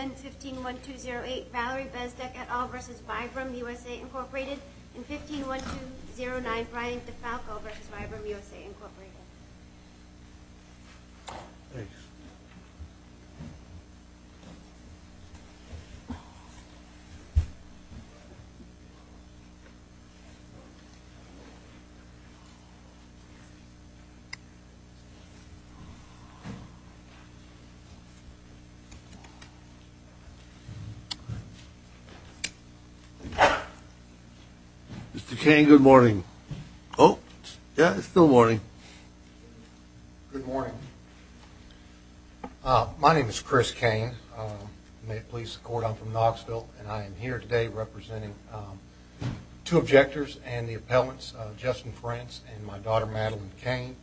and 15-1209 Brian DeFalco v. Vibram USA, Inc. Good morning. My name is Chris Cain. May it please the court, I'm from Knoxville and I'm here today representing two objectors and the appellants, Justin Frantz and my daughter Madeline Cain.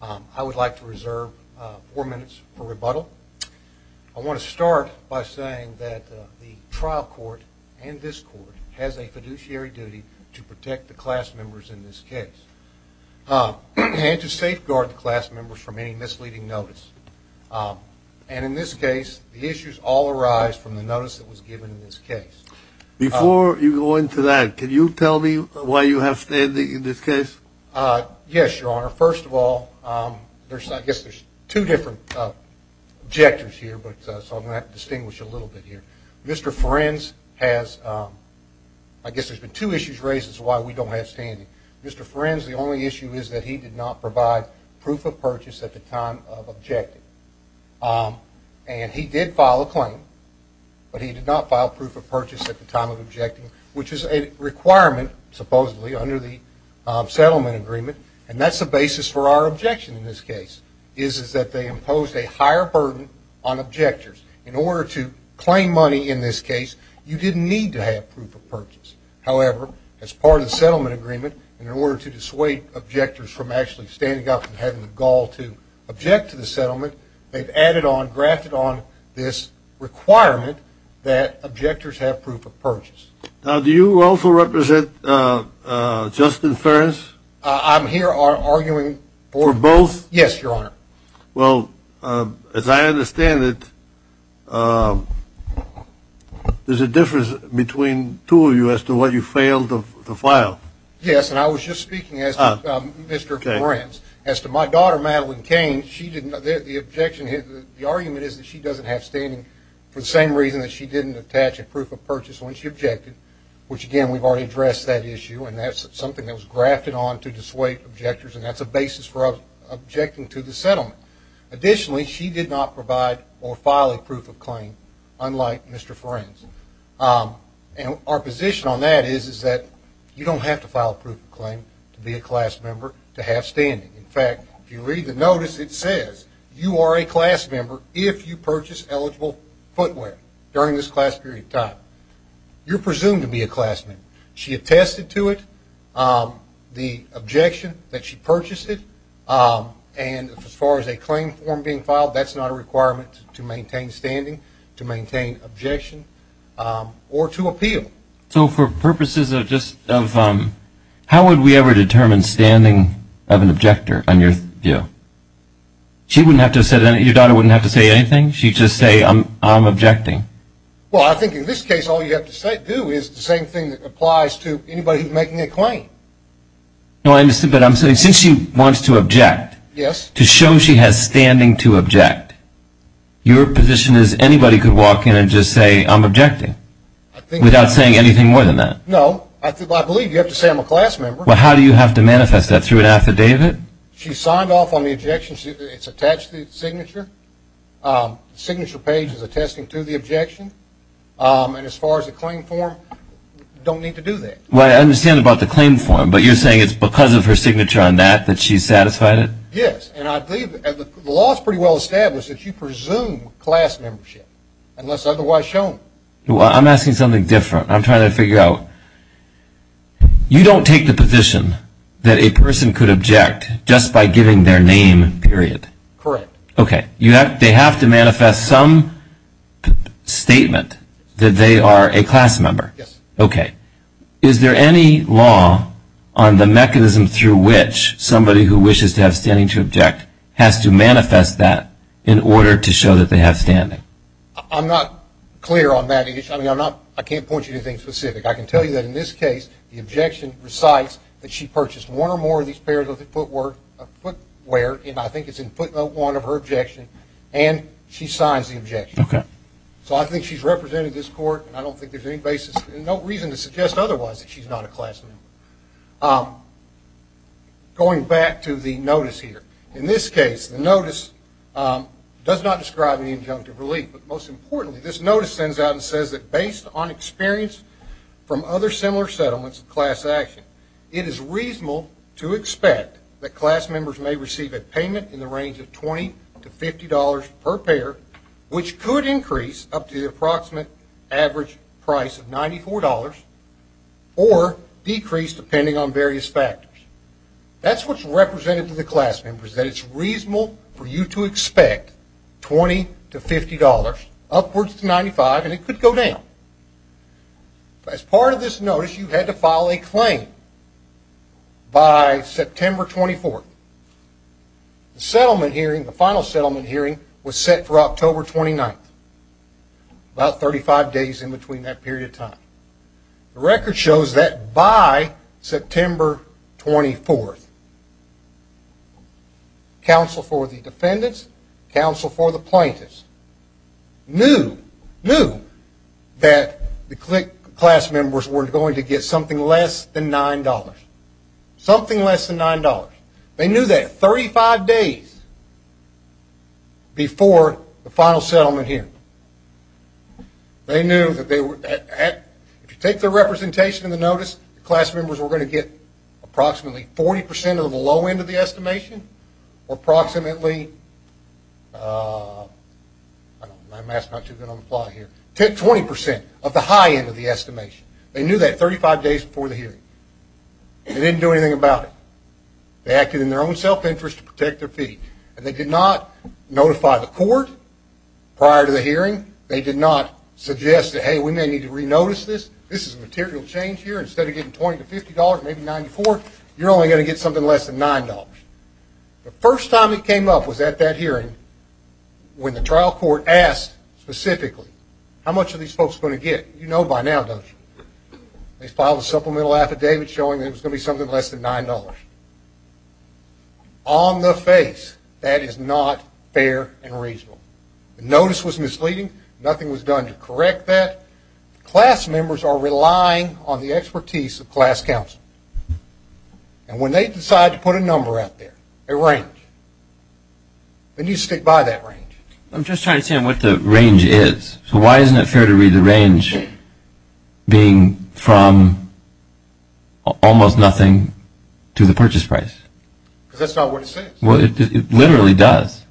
I would like to reserve four minutes for rebuttal. I want to start by saying that the trial court and this court has a fiduciary duty to protect the class members in this case and to safeguard the class members from any misleading notice. And in this case, the issues all arise from the notice that was given in this case. Before you go into that, can you tell me why you have standing in this case? Yes, Your Honor. First of all, I guess there's two different objectors here, so I'm going to have to distinguish a little bit here. Mr. Frantz has, I guess there's been two issues raised as to why we don't have standing. Mr. Frantz, the only issue is that he did not provide proof of purchase at the time of objecting. And he did file a claim, but he did not file proof of purchase at the time of objecting, which is a requirement, supposedly, under the settlement agreement. And that's the basis for our objection in this case, is that they imposed a higher burden on objectors. In order to claim money in this case, you didn't need to have proof of purchase. However, as part of the settlement agreement, in order to dissuade objectors from actually standing up and having the gall to object to the settlement, they've added on, grafted on this requirement that objectors have proof of purchase. Now, do you also represent Justin Ferns? I'm here arguing for both. Yes, Your Honor. Well, as I understand it, there's a difference between two of you as to what you failed to file. Yes, and I was just speaking, Mr. Frantz, as to my daughter, Madeline Cain, the argument is that she doesn't have standing for the same reason that she didn't attach a proof of purchase when she objected, which, again, we've already addressed that issue, and that's something that was grafted on to dissuade objectors, and that's a basis for objecting to the settlement. Additionally, she did not provide or file a proof of claim, unlike Mr. Ferns. And our position on that is that you don't have to file a proof of claim to be a class member to have standing. In fact, if you read the notice, it says you are a class member if you purchase eligible footwear during this class period of time. You're presumed to be a class member. She attested to it, the objection that she purchased it, and as far as a claim form being filed, that's not a requirement to maintain standing, to maintain objection, or to appeal. So for purposes of just how would we ever determine standing of an objector on your view? She wouldn't have to have said anything. Your daughter wouldn't have to say anything. She'd just say, I'm objecting. Well, I think in this case all you have to do is the same thing that applies to anybody who's making a claim. No, I understand, but since she wants to object, to show she has standing to object, your position is anybody could walk in and just say, I'm objecting, without saying anything more than that. No. I believe you have to say I'm a class member. Well, how do you have to manifest that? Through an affidavit? She signed off on the objection. It's attached to the signature. The signature page is attesting to the objection, and as far as the claim form, you don't need to do that. Well, I understand about the claim form, but you're saying it's because of her signature on that that she's satisfied? Yes, and I believe the law is pretty well established that you presume class membership, unless otherwise shown. Well, I'm asking something different. I'm trying to figure out, you don't take the position that a person could object just by giving their name, period. Correct. Okay. They have to manifest some statement that they are a class member? Yes. Okay. Is there any law on the mechanism through which somebody who wishes to have standing to object has to manifest that in order to show that they have standing? I'm not clear on that. I can't point you to anything specific. I can tell you that in this case, the objection recites that she purchased one or more of these pairs of footwear, and I think it's in footnote one of her objection, and she signs the objection. Okay. So I think she's represented in this court, and I don't think there's any basis and no reason to suggest otherwise that she's not a class member. Going back to the notice here, in this case, the notice does not describe any injunctive relief, but most importantly, this notice sends out and says that, based on experience from other similar settlements of class action, it is reasonable to expect that class members may receive a payment in the range of $20 to $50 per pair, which could increase up to the approximate average price of $94 or decrease depending on various factors. That's what's represented to the class members, that it's reasonable for you to expect $20 to $50 upwards to $95, and it could go down. As part of this notice, you had to file a claim by September 24th. The settlement hearing, the final settlement hearing, was set for October 29th, about 35 days in between that period of time. The record shows that by September 24th, counsel for the defendants, counsel for the plaintiffs, knew that the class members were going to get something less than $9. Something less than $9. They knew that 35 days before the final settlement hearing. They knew that if you take the representation in the notice, the class members were going to get approximately 40% of the low end of the estimation, or approximately 20% of the high end of the estimation. They knew that 35 days before the hearing. They didn't do anything about it. They acted in their own self-interest to protect their fee, and they did not notify the court prior to the hearing. They did not suggest that, hey, we may need to re-notice this. This is a material change here. Instead of getting $20 to $50, maybe $94, you're only going to get something less than $9. The first time it came up was at that hearing when the trial court asked specifically, how much are these folks going to get? You know by now, don't you? They filed a supplemental affidavit showing that it was going to be something less than $9. On the face, that is not fair and reasonable. The notice was misleading. Nothing was done to correct that. Class members are relying on the expertise of class counsel. And when they decide to put a number out there, a range, then you stick by that range. I'm just trying to understand what the range is. So why isn't it fair to read the range being from almost nothing to the purchase price? Because that's not what it says. Well, it literally does.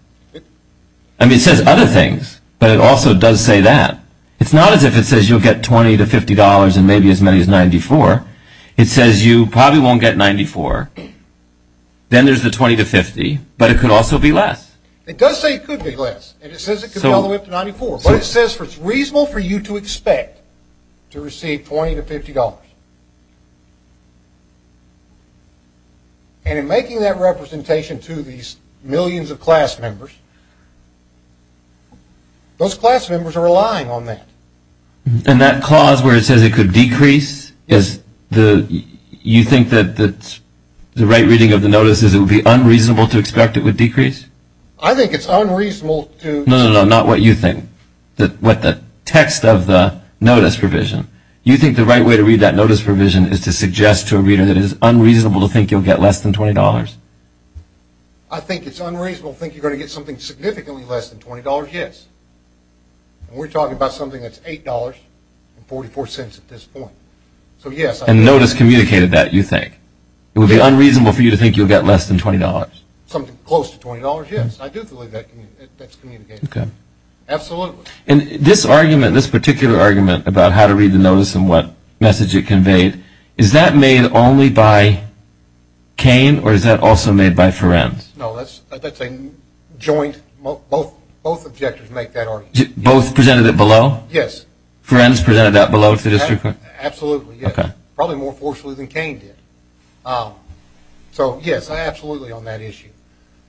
I mean, it says other things, but it also does say that. It's not as if it says you'll get $20 to $50 and maybe as many as $94. It says you probably won't get $94. Then there's the $20 to $50, but it could also be less. It does say it could be less, and it says it could be all the way up to $94. But it says it's reasonable for you to expect to receive $20 to $50. And in making that representation to these millions of class members, those class members are relying on that. And that clause where it says it could decrease, you think that the right reading of the notice is it would be unreasonable to expect it would decrease? I think it's unreasonable to – No, no, no, not what you think, what the text of the notice provision. You think the right way to read that notice provision is to suggest to a reader that it is unreasonable to think you'll get less than $20? I think it's unreasonable to think you're going to get something significantly less than $20, yes. And we're talking about something that's $8.44 at this point. And the notice communicated that, you think. It would be unreasonable for you to think you'll get less than $20. Something close to $20, yes. I do believe that's communicated. Okay. And this argument, this particular argument about how to read the notice and what message it conveyed, is that made only by Cain or is that also made by Ferencz? No, that's a joint – both objectors make that argument. Both presented it below? Yes. Ferencz presented that below to the district court? Absolutely, yes. Okay. Probably more fortunately than Cain did. So, yes, absolutely on that issue.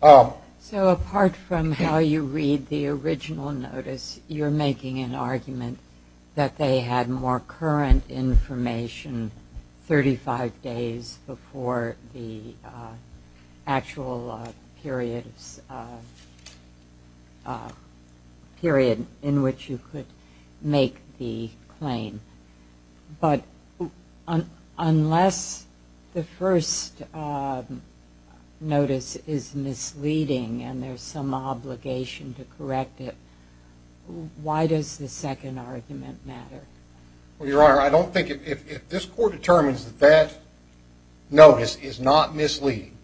So apart from how you read the original notice, you're making an argument that they had more current information 35 days before the actual period in which you could make the claim. But unless the first notice is misleading and there's some obligation to correct it, why does the second argument matter? Well, Your Honor, I don't think – if this court determines that that notice is not misleading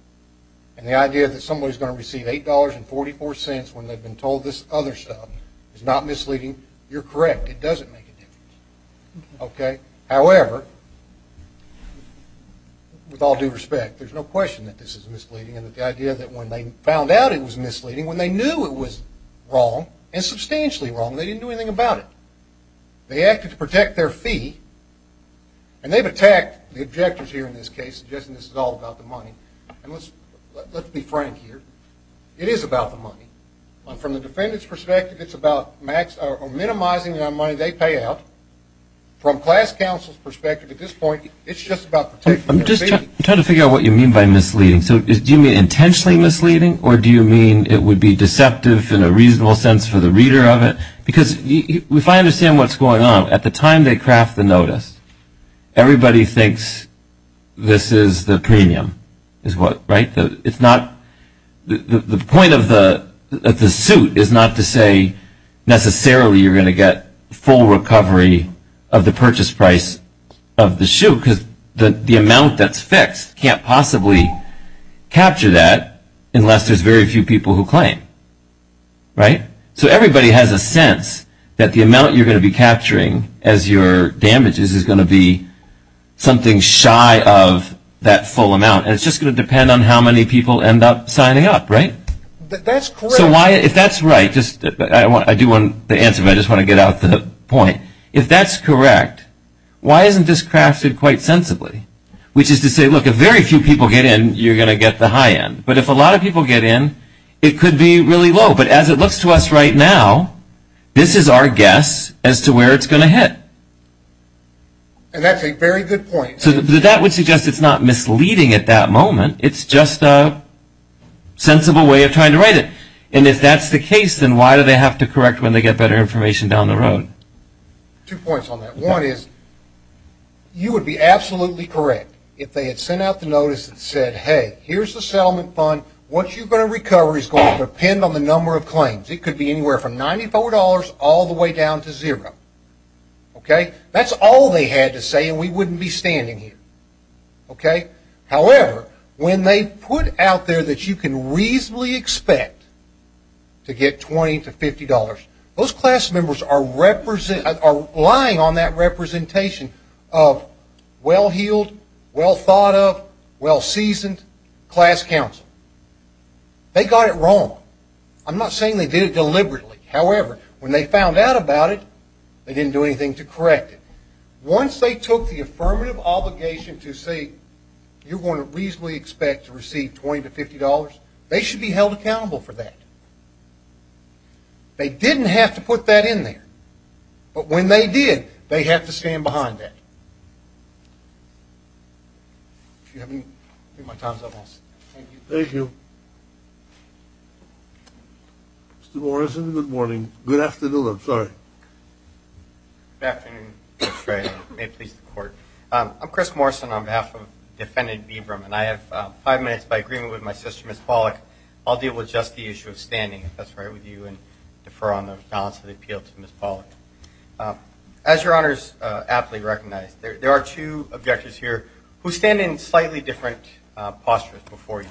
and the idea that somebody's going to receive $8.44 when they've been told this other stuff is not misleading, you're correct. It doesn't make a difference. Okay? However, with all due respect, there's no question that this is misleading and that the idea that when they found out it was misleading, when they knew it was wrong, and substantially wrong, they didn't do anything about it. They acted to protect their fee, and they've attacked the objectors here in this case, suggesting this is all about the money. And let's be frank here. It is about the money. From the defendant's perspective, it's about minimizing the money they pay out. From class counsel's perspective at this point, it's just about protecting their fee. I'm just trying to figure out what you mean by misleading. So do you mean intentionally misleading, or do you mean it would be deceptive in a reasonable sense for the reader of it? Because if I understand what's going on, at the time they craft the notice, everybody thinks this is the premium, right? The point of the suit is not to say necessarily you're going to get full recovery of the purchase price of the shoe, because the amount that's fixed can't possibly capture that unless there's very few people who claim, right? So everybody has a sense that the amount you're going to be capturing as your damages is going to be something shy of that full amount, and it's just going to depend on how many people end up signing up, right? That's correct. So if that's right, I do want the answer, but I just want to get out the point. If that's correct, why isn't this crafted quite sensibly, which is to say, look, if very few people get in, you're going to get the high end. But if a lot of people get in, it could be really low. But as it looks to us right now, this is our guess as to where it's going to hit. And that's a very good point. So that would suggest it's not misleading at that moment. It's just a sensible way of trying to write it. And if that's the case, then why do they have to correct when they get better information down the road? Two points on that. One is you would be absolutely correct if they had sent out the notice that said, hey, here's the settlement fund. What you're going to recover is going to depend on the number of claims. It could be anywhere from $94 all the way down to zero. Okay? That's all they had to say and we wouldn't be standing here. Okay? However, when they put out there that you can reasonably expect to get $20 to $50, those class members are relying on that representation of well-heeled, well-thought-of, well-seasoned class counsel. I'm not saying they did it deliberately. However, when they found out about it, they didn't do anything to correct it. Once they took the affirmative obligation to say, you're going to reasonably expect to receive $20 to $50, they should be held accountable for that. They didn't have to put that in there. But when they did, they had to stand behind that. Thank you. Thank you. Mr. Morrison, good morning. Good afternoon. I'm sorry. Good afternoon, Mr. Treanor. May it please the Court. I'm Chris Morrison on behalf of Defendant Beebram, and I have five minutes by agreement with my sister, Ms. Pollack. I'll deal with just the issue of standing, if that's all right with you, and defer on the balance of the appeal to Ms. Pollack. As Your Honors aptly recognize, there are two objectors here who stand in slightly different postures before you.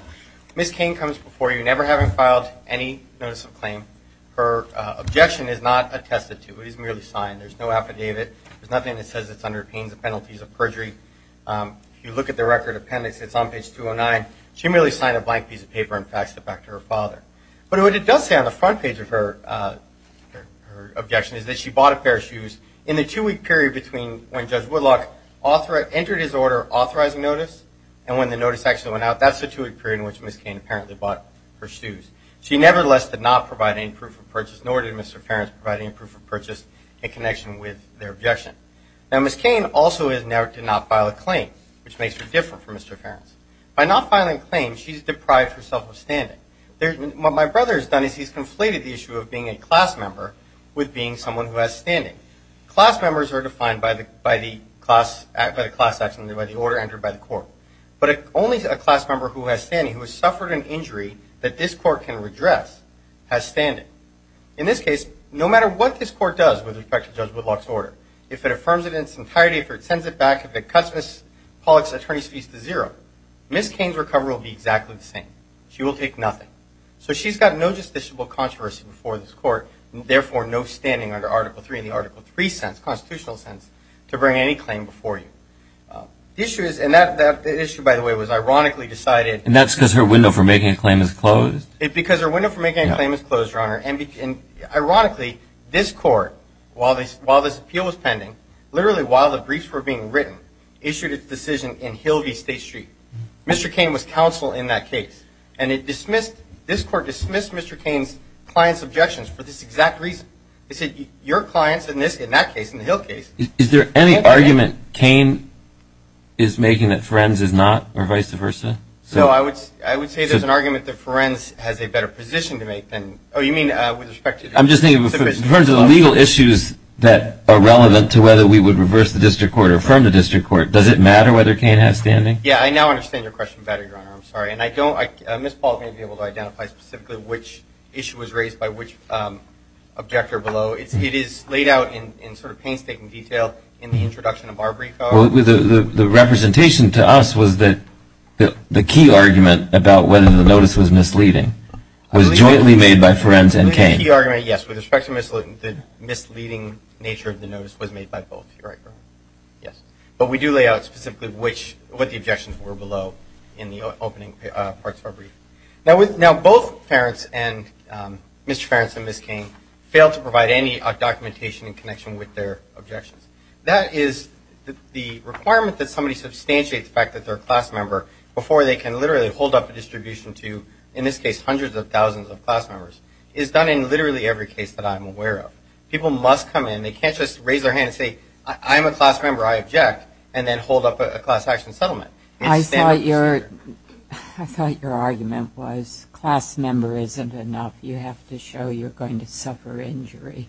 Ms. Cain comes before you never having filed any notice of claim. Her objection is not attested to. It is merely signed. There's no affidavit. There's nothing that says it's under pains and penalties of perjury. If you look at the record appendix, it's on page 209. She merely signed a blank piece of paper and faxed it back to her father. But what it does say on the front page of her objection is that she bought a pair of shoes in the two-week period between when Judge Woodlock entered his order authorizing notice and when the notice actually went out. That's the two-week period in which Ms. Cain apparently bought her shoes. She nevertheless did not provide any proof of purchase, nor did Mr. Ferentz provide any proof of purchase in connection with their objection. Now, Ms. Cain also did not file a claim, which makes her different from Mr. Ferentz. By not filing a claim, she's deprived herself of standing. What my brother has done is he's conflated the issue of being a class member with being someone who has standing. Class members are defined by the class action, by the order entered by the court. But only a class member who has standing, who has suffered an injury that this court can redress, has standing. In this case, no matter what this court does with respect to Judge Woodlock's order, if it affirms it in its entirety, if it sends it back, if it cuts Ms. Pollack's attorney's fees to zero, Ms. Cain's recovery will be exactly the same. She will take nothing. So she's got no justiciable controversy before this court, therefore no standing under Article III in the Article III sense, constitutional sense, to bring any claim before you. The issue is, and that issue, by the way, was ironically decided. And that's because her window for making a claim is closed? Because her window for making a claim is closed, Your Honor. And ironically, this court, while this appeal was pending, literally while the briefs were being written, issued its decision in Hilvey State Street. Mr. Cain was counsel in that case. And it dismissed, this court dismissed Mr. Cain's client's objections for this exact reason. It said your clients in that case, in the Hill case. Is there any argument Cain is making that Ferenz is not or vice versa? No, I would say there's an argument that Ferenz has a better position to make than, oh, you mean with respect to. I'm just thinking in terms of the legal issues that are relevant to whether we would reverse the district court or affirm the district court, does it matter whether Cain has standing? Yeah, I now understand your question better, Your Honor. I'm sorry. And I don't, Ms. Paul may be able to identify specifically which issue was raised by which objector below. It is laid out in sort of painstaking detail in the introduction of our brief. Well, the representation to us was that the key argument about whether the notice was misleading was jointly made by Ferenz and Cain. The key argument, yes, with respect to the misleading nature of the notice was made by both, Your Honor. Yes. But we do lay out specifically which, what the objections were below in the opening parts of our brief. Now, both Ferenz and, Mr. Ferenz and Ms. Cain, failed to provide any documentation in connection with their objections. That is the requirement that somebody substantiate the fact that they're a class member before they can literally hold up a distribution to, in this case, hundreds of thousands of class members is done in literally every case that I'm aware of. People must come in. They can't just raise their hand and say, I'm a class member, I object, and then hold up a class action settlement. I thought your argument was class member isn't enough. You have to show you're going to suffer injury.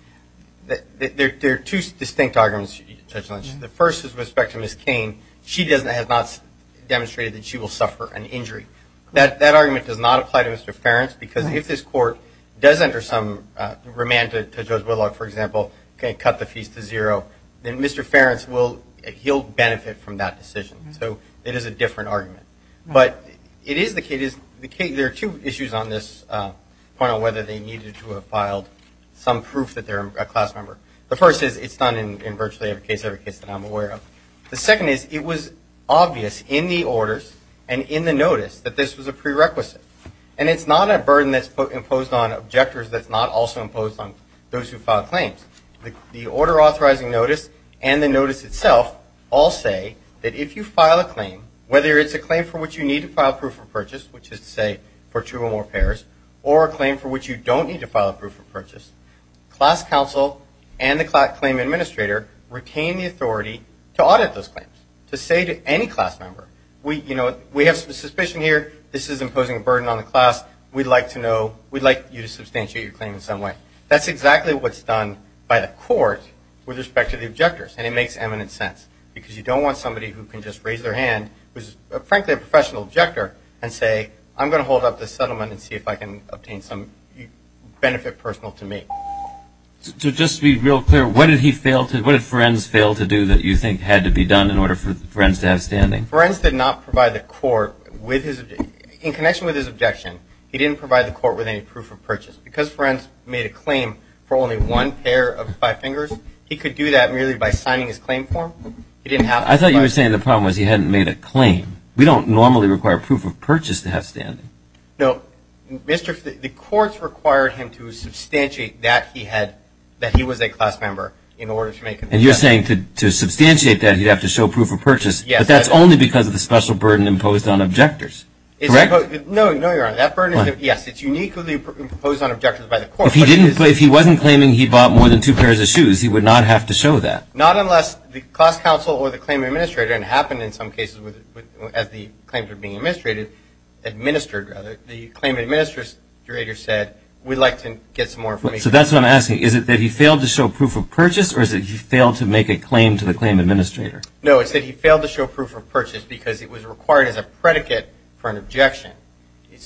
There are two distinct arguments. The first is with respect to Ms. Cain. She has not demonstrated that she will suffer an injury. That argument does not apply to Mr. Ferenz because if this court does enter some remand to Judge Whitlock, for example, cut the fees to zero, then Mr. Ferenz will benefit from that decision. So it is a different argument. But it is the case. There are two issues on this point on whether they needed to have filed some proof that they're a class member. The first is it's done in virtually every case that I'm aware of. The second is it was obvious in the orders and in the notice that this was a prerequisite. And it's not a burden that's imposed on objectors that's not also imposed on those who file claims. The order authorizing notice and the notice itself all say that if you file a claim, whether it's a claim for which you need to file a proof of purchase, which is to say for two or more pairs, or a claim for which you don't need to file a proof of purchase, class counsel and the claim administrator retain the authority to audit those claims, to say to any class member, we have some suspicion here, this is imposing a burden on the class, we'd like you to substantiate your claim in some way. That's exactly what's done by the court with respect to the objectors, and it makes eminent sense because you don't want somebody who can just raise their hand, who's frankly a professional objector, and say, I'm going to hold up this settlement and see if I can obtain some benefit personal to me. So just to be real clear, what did Ferenz fail to do that you think had to be done in order for Ferenz to have standing? Ferenz did not provide the court with his – in connection with his objection, he didn't provide the court with any proof of purchase. Because Ferenz made a claim for only one pair of five fingers, he could do that merely by signing his claim form. I thought you were saying the problem was he hadn't made a claim. We don't normally require proof of purchase to have standing. No. The courts required him to substantiate that he was a class member in order to make a claim. But that's only because of the special burden imposed on objectors, correct? No, Your Honor. That burden, yes, it's uniquely imposed on objectors by the court. If he wasn't claiming he bought more than two pairs of shoes, he would not have to show that. Not unless the class counsel or the claim administrator, and it happened in some cases as the claims were being administered, the claim administrator said, we'd like to get some more – So that's what I'm asking. Is it that he failed to show proof of purchase, or is it he failed to make a claim to the claim administrator? No, it's that he failed to show proof of purchase because it was required as a predicate for an objection.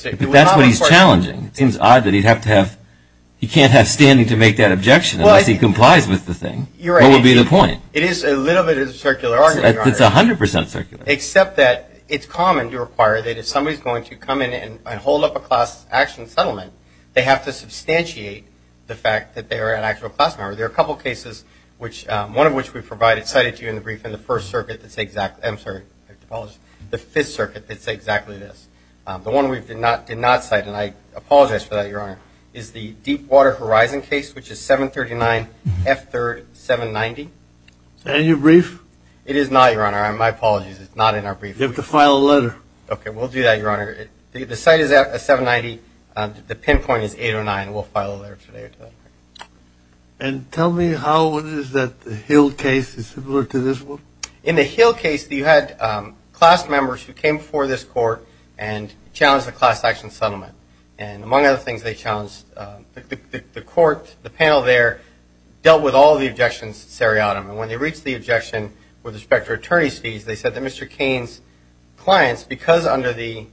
But that's what he's challenging. It seems odd that he'd have to have – he can't have standing to make that objection unless he complies with the thing. What would be the point? It is a little bit of a circular argument, Your Honor. It's 100 percent circular. Except that it's common to require that if somebody's going to come in and hold up a class action settlement, they have to substantiate the fact that they are an actual class member. There are a couple of cases, one of which we've provided, cited to you in the brief, in the First Circuit that's exactly – I'm sorry, I have to apologize – the Fifth Circuit that's exactly this. The one we did not cite, and I apologize for that, Your Honor, is the Deepwater Horizon case, which is 739F3-790. Is that in your brief? It is not, Your Honor. My apologies. It's not in our brief. You have to file a letter. Okay. We'll do that, Your Honor. The site is 790. The pinpoint is 809. We'll file a letter today or tomorrow. And tell me how it is that the Hill case is similar to this one. In the Hill case, you had class members who came before this court and challenged the class action settlement. And among other things they challenged, the court, the panel there, dealt with all the objections seriatim. And when they reached the objection with respect to attorney's fees, they said that Mr. Cain's clients, because under the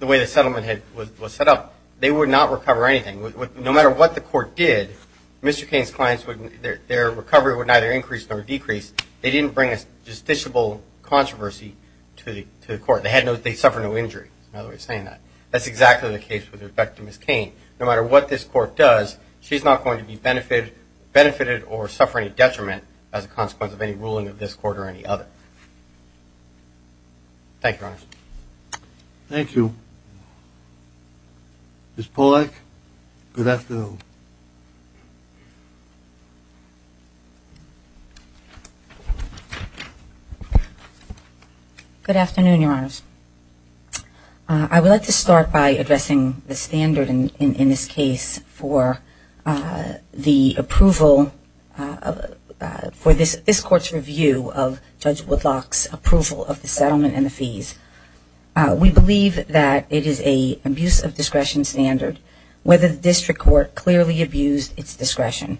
way the settlement was set up, they would not recover anything. No matter what the court did, Mr. Cain's clients, their recovery would neither increase nor decrease. They didn't bring a justiciable controversy to the court. They suffered no injury. That's another way of saying that. That's exactly the case with respect to Ms. Cain. No matter what this court does, she's not going to be benefited or suffer any detriment as a consequence of any ruling of this court or any other. Thank you, Your Honor. Thank you. Ms. Polak, good afternoon. Good afternoon, Your Honors. I would like to start by addressing the standard in this case for the approval for this court's review of Judge Woodlock's approval of the settlement and the fees. We believe that it is an abuse of discretion standard whether the district court clearly abused its discretion.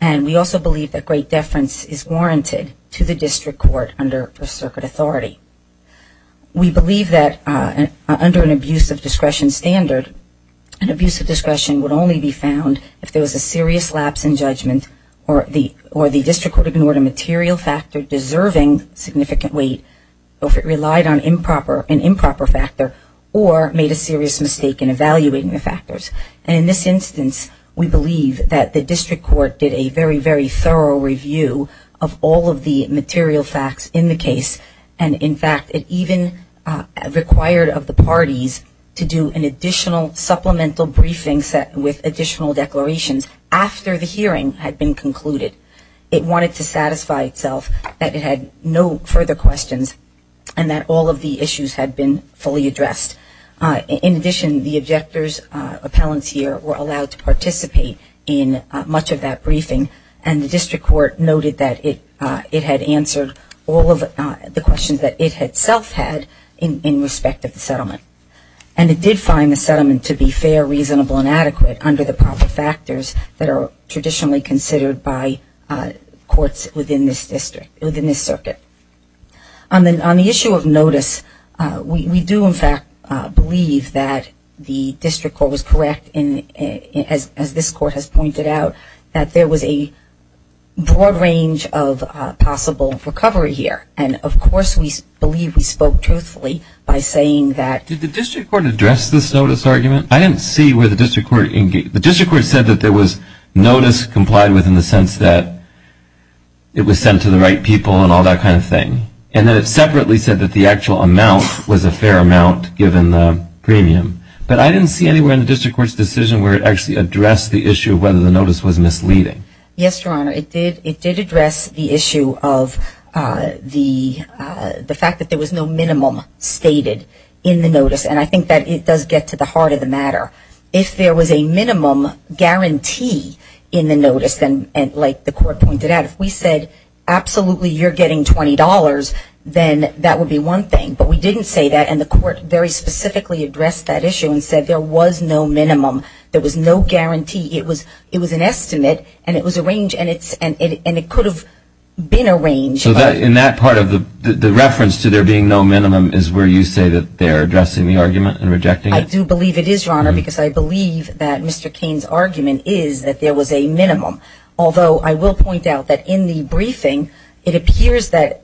And we also believe that great deference is warranted to the district court under First Circuit authority. We believe that under an abuse of discretion standard, an abuse of discretion would only be found if there was a serious lapse in judgment or the district court ignored a material factor deserving significant weight, or if it relied on an improper factor or made a serious mistake in evaluating the factors. And in this instance, we believe that the district court did a very, very thorough review of all of the material facts in the case. And, in fact, it even required of the parties to do an additional supplemental briefing set with additional declarations after the hearing had been concluded. It wanted to satisfy itself that it had no further questions and that all of the issues had been fully addressed. In addition, the objectors, appellants here, were allowed to participate in much of that briefing, and the district court noted that it had answered all of the questions that it itself had in respect of the settlement. And it did find the settlement to be fair, reasonable, and adequate under the proper factors that are traditionally considered by courts within this district, within this circuit. On the issue of notice, we do, in fact, believe that the district court was correct, as this court has pointed out, that there was a broad range of possible recovery here. And, of course, we believe we spoke truthfully by saying that. Did the district court address this notice argument? I didn't see where the district court engaged. The district court said that there was notice complied with in the sense that it was sent to the right people and all that kind of thing. And then it separately said that the actual amount was a fair amount given the premium. But I didn't see anywhere in the district court's decision where it actually addressed the issue of whether the notice was misleading. Yes, Your Honor, it did address the issue of the fact that there was no minimum stated in the notice. And I think that it does get to the heart of the matter. If there was a minimum guarantee in the notice, like the court pointed out, if we said absolutely you're getting $20, then that would be one thing. But we didn't say that, and the court very specifically addressed that issue and said there was no minimum. There was no guarantee. It was an estimate, and it was a range, and it could have been a range. So in that part of the reference to there being no minimum is where you say that they are addressing the argument and rejecting it? I do believe it is, Your Honor, because I believe that Mr. Cain's argument is that there was a minimum. Although I will point out that in the briefing, it appears that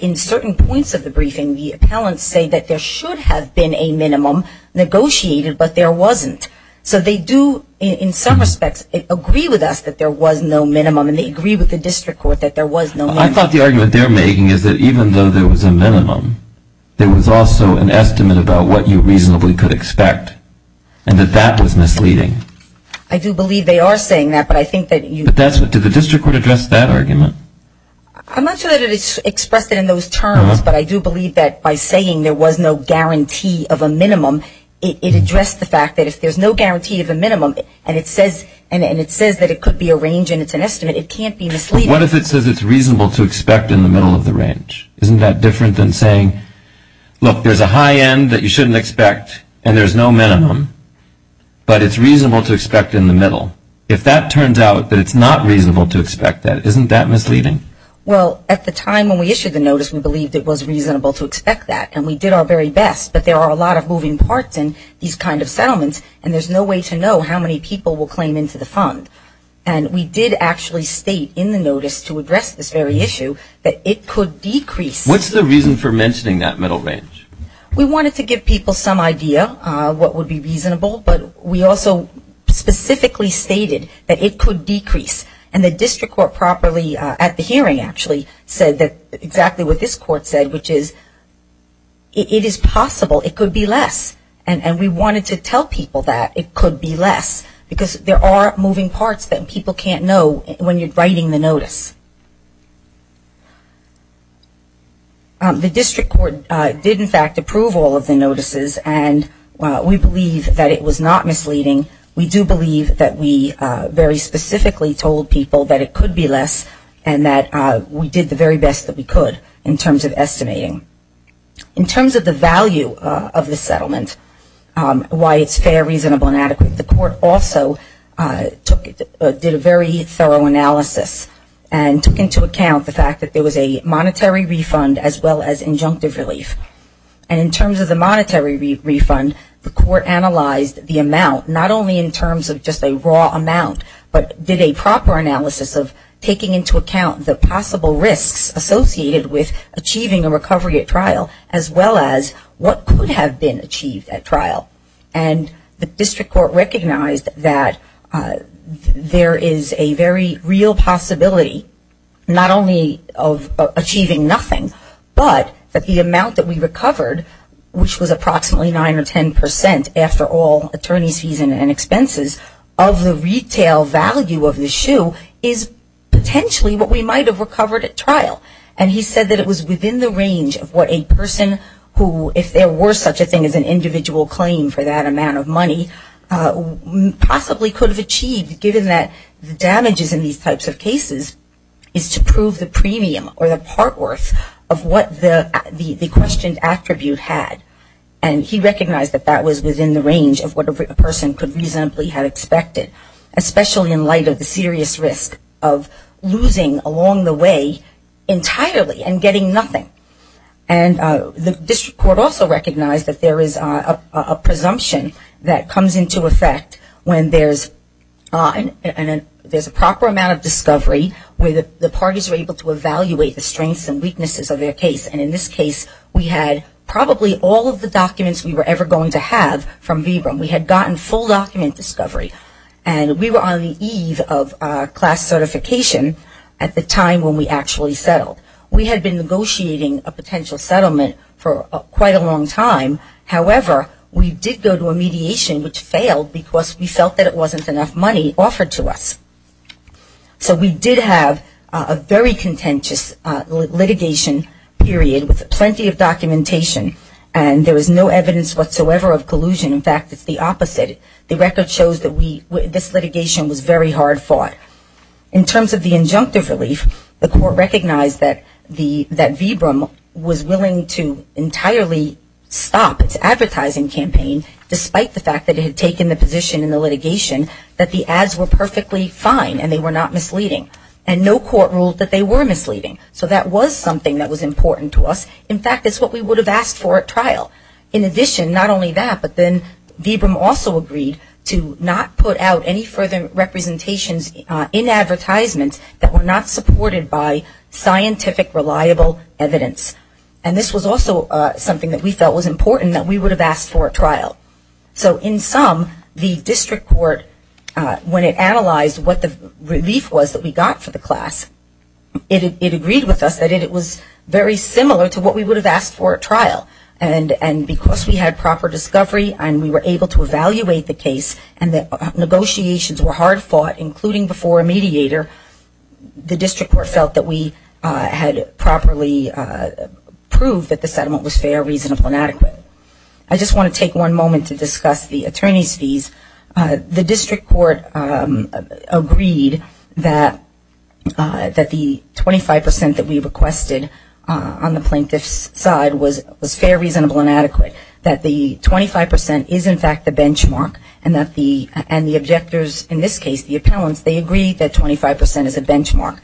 in certain points of the briefing, the appellants say that there should have been a minimum negotiated, but there wasn't. So they do, in some respects, agree with us that there was no minimum, and they agree with the district court that there was no minimum. I thought the argument they're making is that even though there was a minimum, there was also an estimate about what you reasonably could expect and that that was misleading. I do believe they are saying that, but I think that you – But that's what – did the district court address that argument? I'm not sure that it is expressed in those terms, but I do believe that by saying there was no guarantee of a minimum, it addressed the fact that if there's no guarantee of a minimum and it says that it could be a range and it's an estimate, it can't be misleading. But what if it says it's reasonable to expect in the middle of the range? Isn't that different than saying, look, there's a high end that you shouldn't expect and there's no minimum, but it's reasonable to expect in the middle? If that turns out that it's not reasonable to expect that, isn't that misleading? Well, at the time when we issued the notice, we believed it was reasonable to expect that, and we did our very best, but there are a lot of moving parts in these kind of settlements and there's no way to know how many people will claim into the fund. And we did actually state in the notice to address this very issue that it could decrease. What's the reason for mentioning that middle range? We wanted to give people some idea of what would be reasonable, but we also specifically stated that it could decrease. And the district court properly at the hearing actually said exactly what this court said, which is it is possible it could be less. And we wanted to tell people that it could be less, because there are moving parts that people can't know when you're writing the notice. The district court did, in fact, approve all of the notices, and we believe that it was not misleading. We do believe that we very specifically told people that it could be less and that we did the very best that we could in terms of estimating. In terms of the value of the settlement, why it's fair, reasonable, and adequate, the court also did a very thorough analysis and took into account the fact that there was a monetary refund as well as injunctive relief. And in terms of the monetary refund, the court analyzed the amount, not only in terms of just a raw amount, but did a proper analysis of taking into account the possible risks associated with achieving a recovery at trial as well as what could have been achieved at trial. And the district court recognized that there is a very real possibility, not only of achieving nothing, but that the amount that we recovered, which was approximately 9 or 10 percent after all attorneys' fees and expenses, of the retail value of the shoe is potentially what we might have recovered at trial. And he said that it was within the range of what a person who, if there were such a thing as an individual claim for that amount of money, possibly could have achieved given that the damages in these types of cases is to prove the premium or the part worth of what the questioned attribute had. And he recognized that that was within the range of what a person could reasonably have expected, especially in light of the serious risk of losing along the way entirely and getting nothing. And the district court also recognized that there is a presumption that comes into effect when there's a proper amount of discovery, where the parties are able to evaluate the strengths and weaknesses of their case. And in this case we had probably all of the documents we were ever going to have from VBRIM. We had gotten full document discovery. And we were on the eve of class certification at the time when we actually settled. We had been negotiating a potential settlement for quite a long time. However, we did go to a mediation which failed because we felt that it wasn't enough money offered to us. So we did have a very contentious litigation period with plenty of documentation. And there was no evidence whatsoever of collusion. In fact, it's the opposite. The record shows that this litigation was very hard fought. In terms of the injunctive relief, the court recognized that VBRIM was willing to entirely stop its advertising campaign despite the fact that it had taken the position in the litigation that the ads were perfectly fine and they were not misleading. And no court ruled that they were misleading. So that was something that was important to us. In fact, it's what we would have asked for at trial. In addition, not only that, but then VBRIM also agreed to not put out any further representations in advertisements that were not supported by scientific reliable evidence. And this was also something that we felt was important that we would have asked for at trial. So in sum, the district court, when it analyzed what the relief was that we got for the class, it agreed with us that it was very similar to what we would have asked for at trial. And because we had proper discovery and we were able to evaluate the case and the negotiations were hard fought, including before a mediator, the district court felt that we had properly proved that the settlement was fair, reasonable, and adequate. But I just want to take one moment to discuss the attorney's fees. The district court agreed that the 25% that we requested on the plaintiff's side was fair, reasonable, and adequate, that the 25% is in fact the benchmark, and the objectors, in this case the appellants, they agreed that 25% is a benchmark.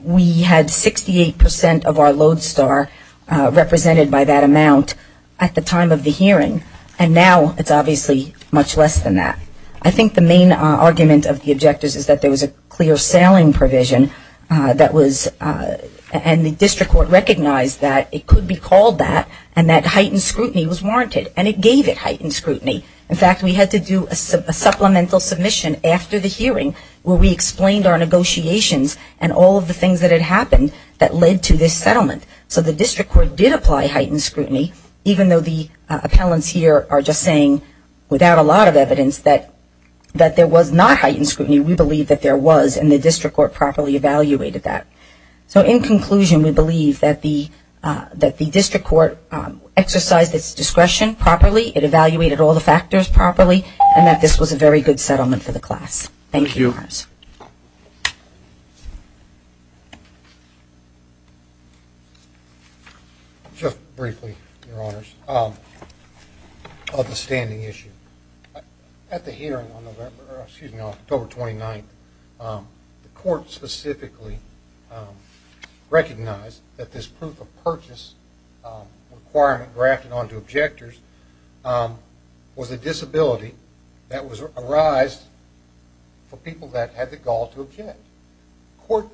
We had 68% of our lodestar represented by that amount at the time of the hearing, and now it's obviously much less than that. I think the main argument of the objectors is that there was a clear selling provision that was, and the district court recognized that it could be called that, and that heightened scrutiny was warranted, and it gave it heightened scrutiny. In fact, we had to do a supplemental submission after the hearing where we explained our negotiations and all of the things that had happened that led to this settlement. So the district court did apply heightened scrutiny, even though the appellants here are just saying without a lot of evidence that there was not heightened scrutiny. We believe that there was, and the district court properly evaluated that. So in conclusion, we believe that the district court exercised its discretion properly, it evaluated all the factors properly, and that this was a very good settlement for the class. Thank you. Just briefly, Your Honors, on the standing issue. At the hearing on October 29th, the court specifically recognized that this proof of purchase requirement grafted onto objectors was a disability that was arised for people that had the gall to object. The court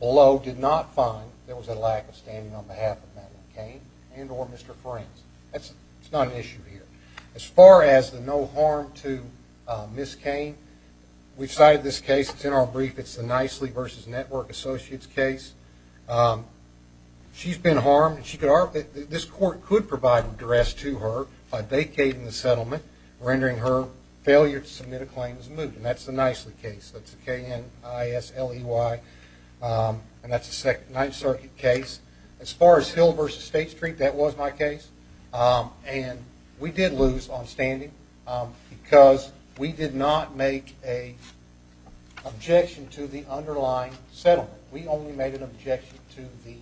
below did not find there was a lack of standing on behalf of Madeline Kane and or Mr. Forens. That's not an issue here. As far as the no harm to Ms. Kane, we've cited this case. It's in our brief. It's the Nicely v. Network Associates case. She's been harmed, and this court could provide a duress to her by vacating the settlement, rendering her failure to submit a claim as moved, and that's the Nicely case. That's the K-N-I-S-L-E-Y, and that's the Ninth Circuit case. As far as Hill v. State Street, that was my case, and we did lose on standing because we did not make an objection to the underlying settlement. We only made an objection to the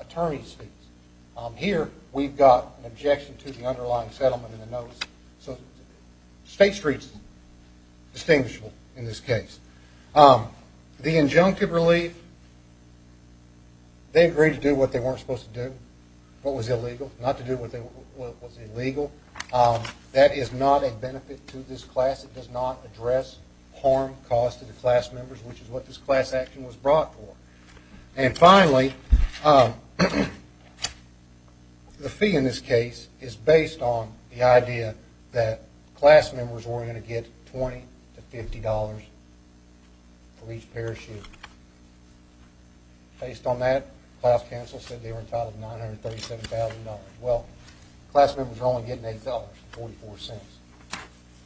attorney's case. Here, we've got an objection to the underlying settlement in the notice, so State Street's distinguishable in this case. The injunctive relief, they agreed to do what they weren't supposed to do, what was illegal, not to do what was illegal. That is not a benefit to this class. It does not address harm caused to the class members, which is what this class action was brought for. And finally, the fee in this case is based on the idea that class members were going to get $20-$50 for each parachute. Based on that, the class council said they were entitled to $937,000. Well, class members are only getting $8.44.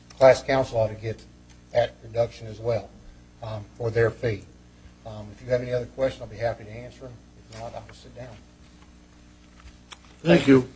The class council ought to get that reduction as well for their fee. If you have any other questions, I'll be happy to answer them. If not, I will sit down. Thank you.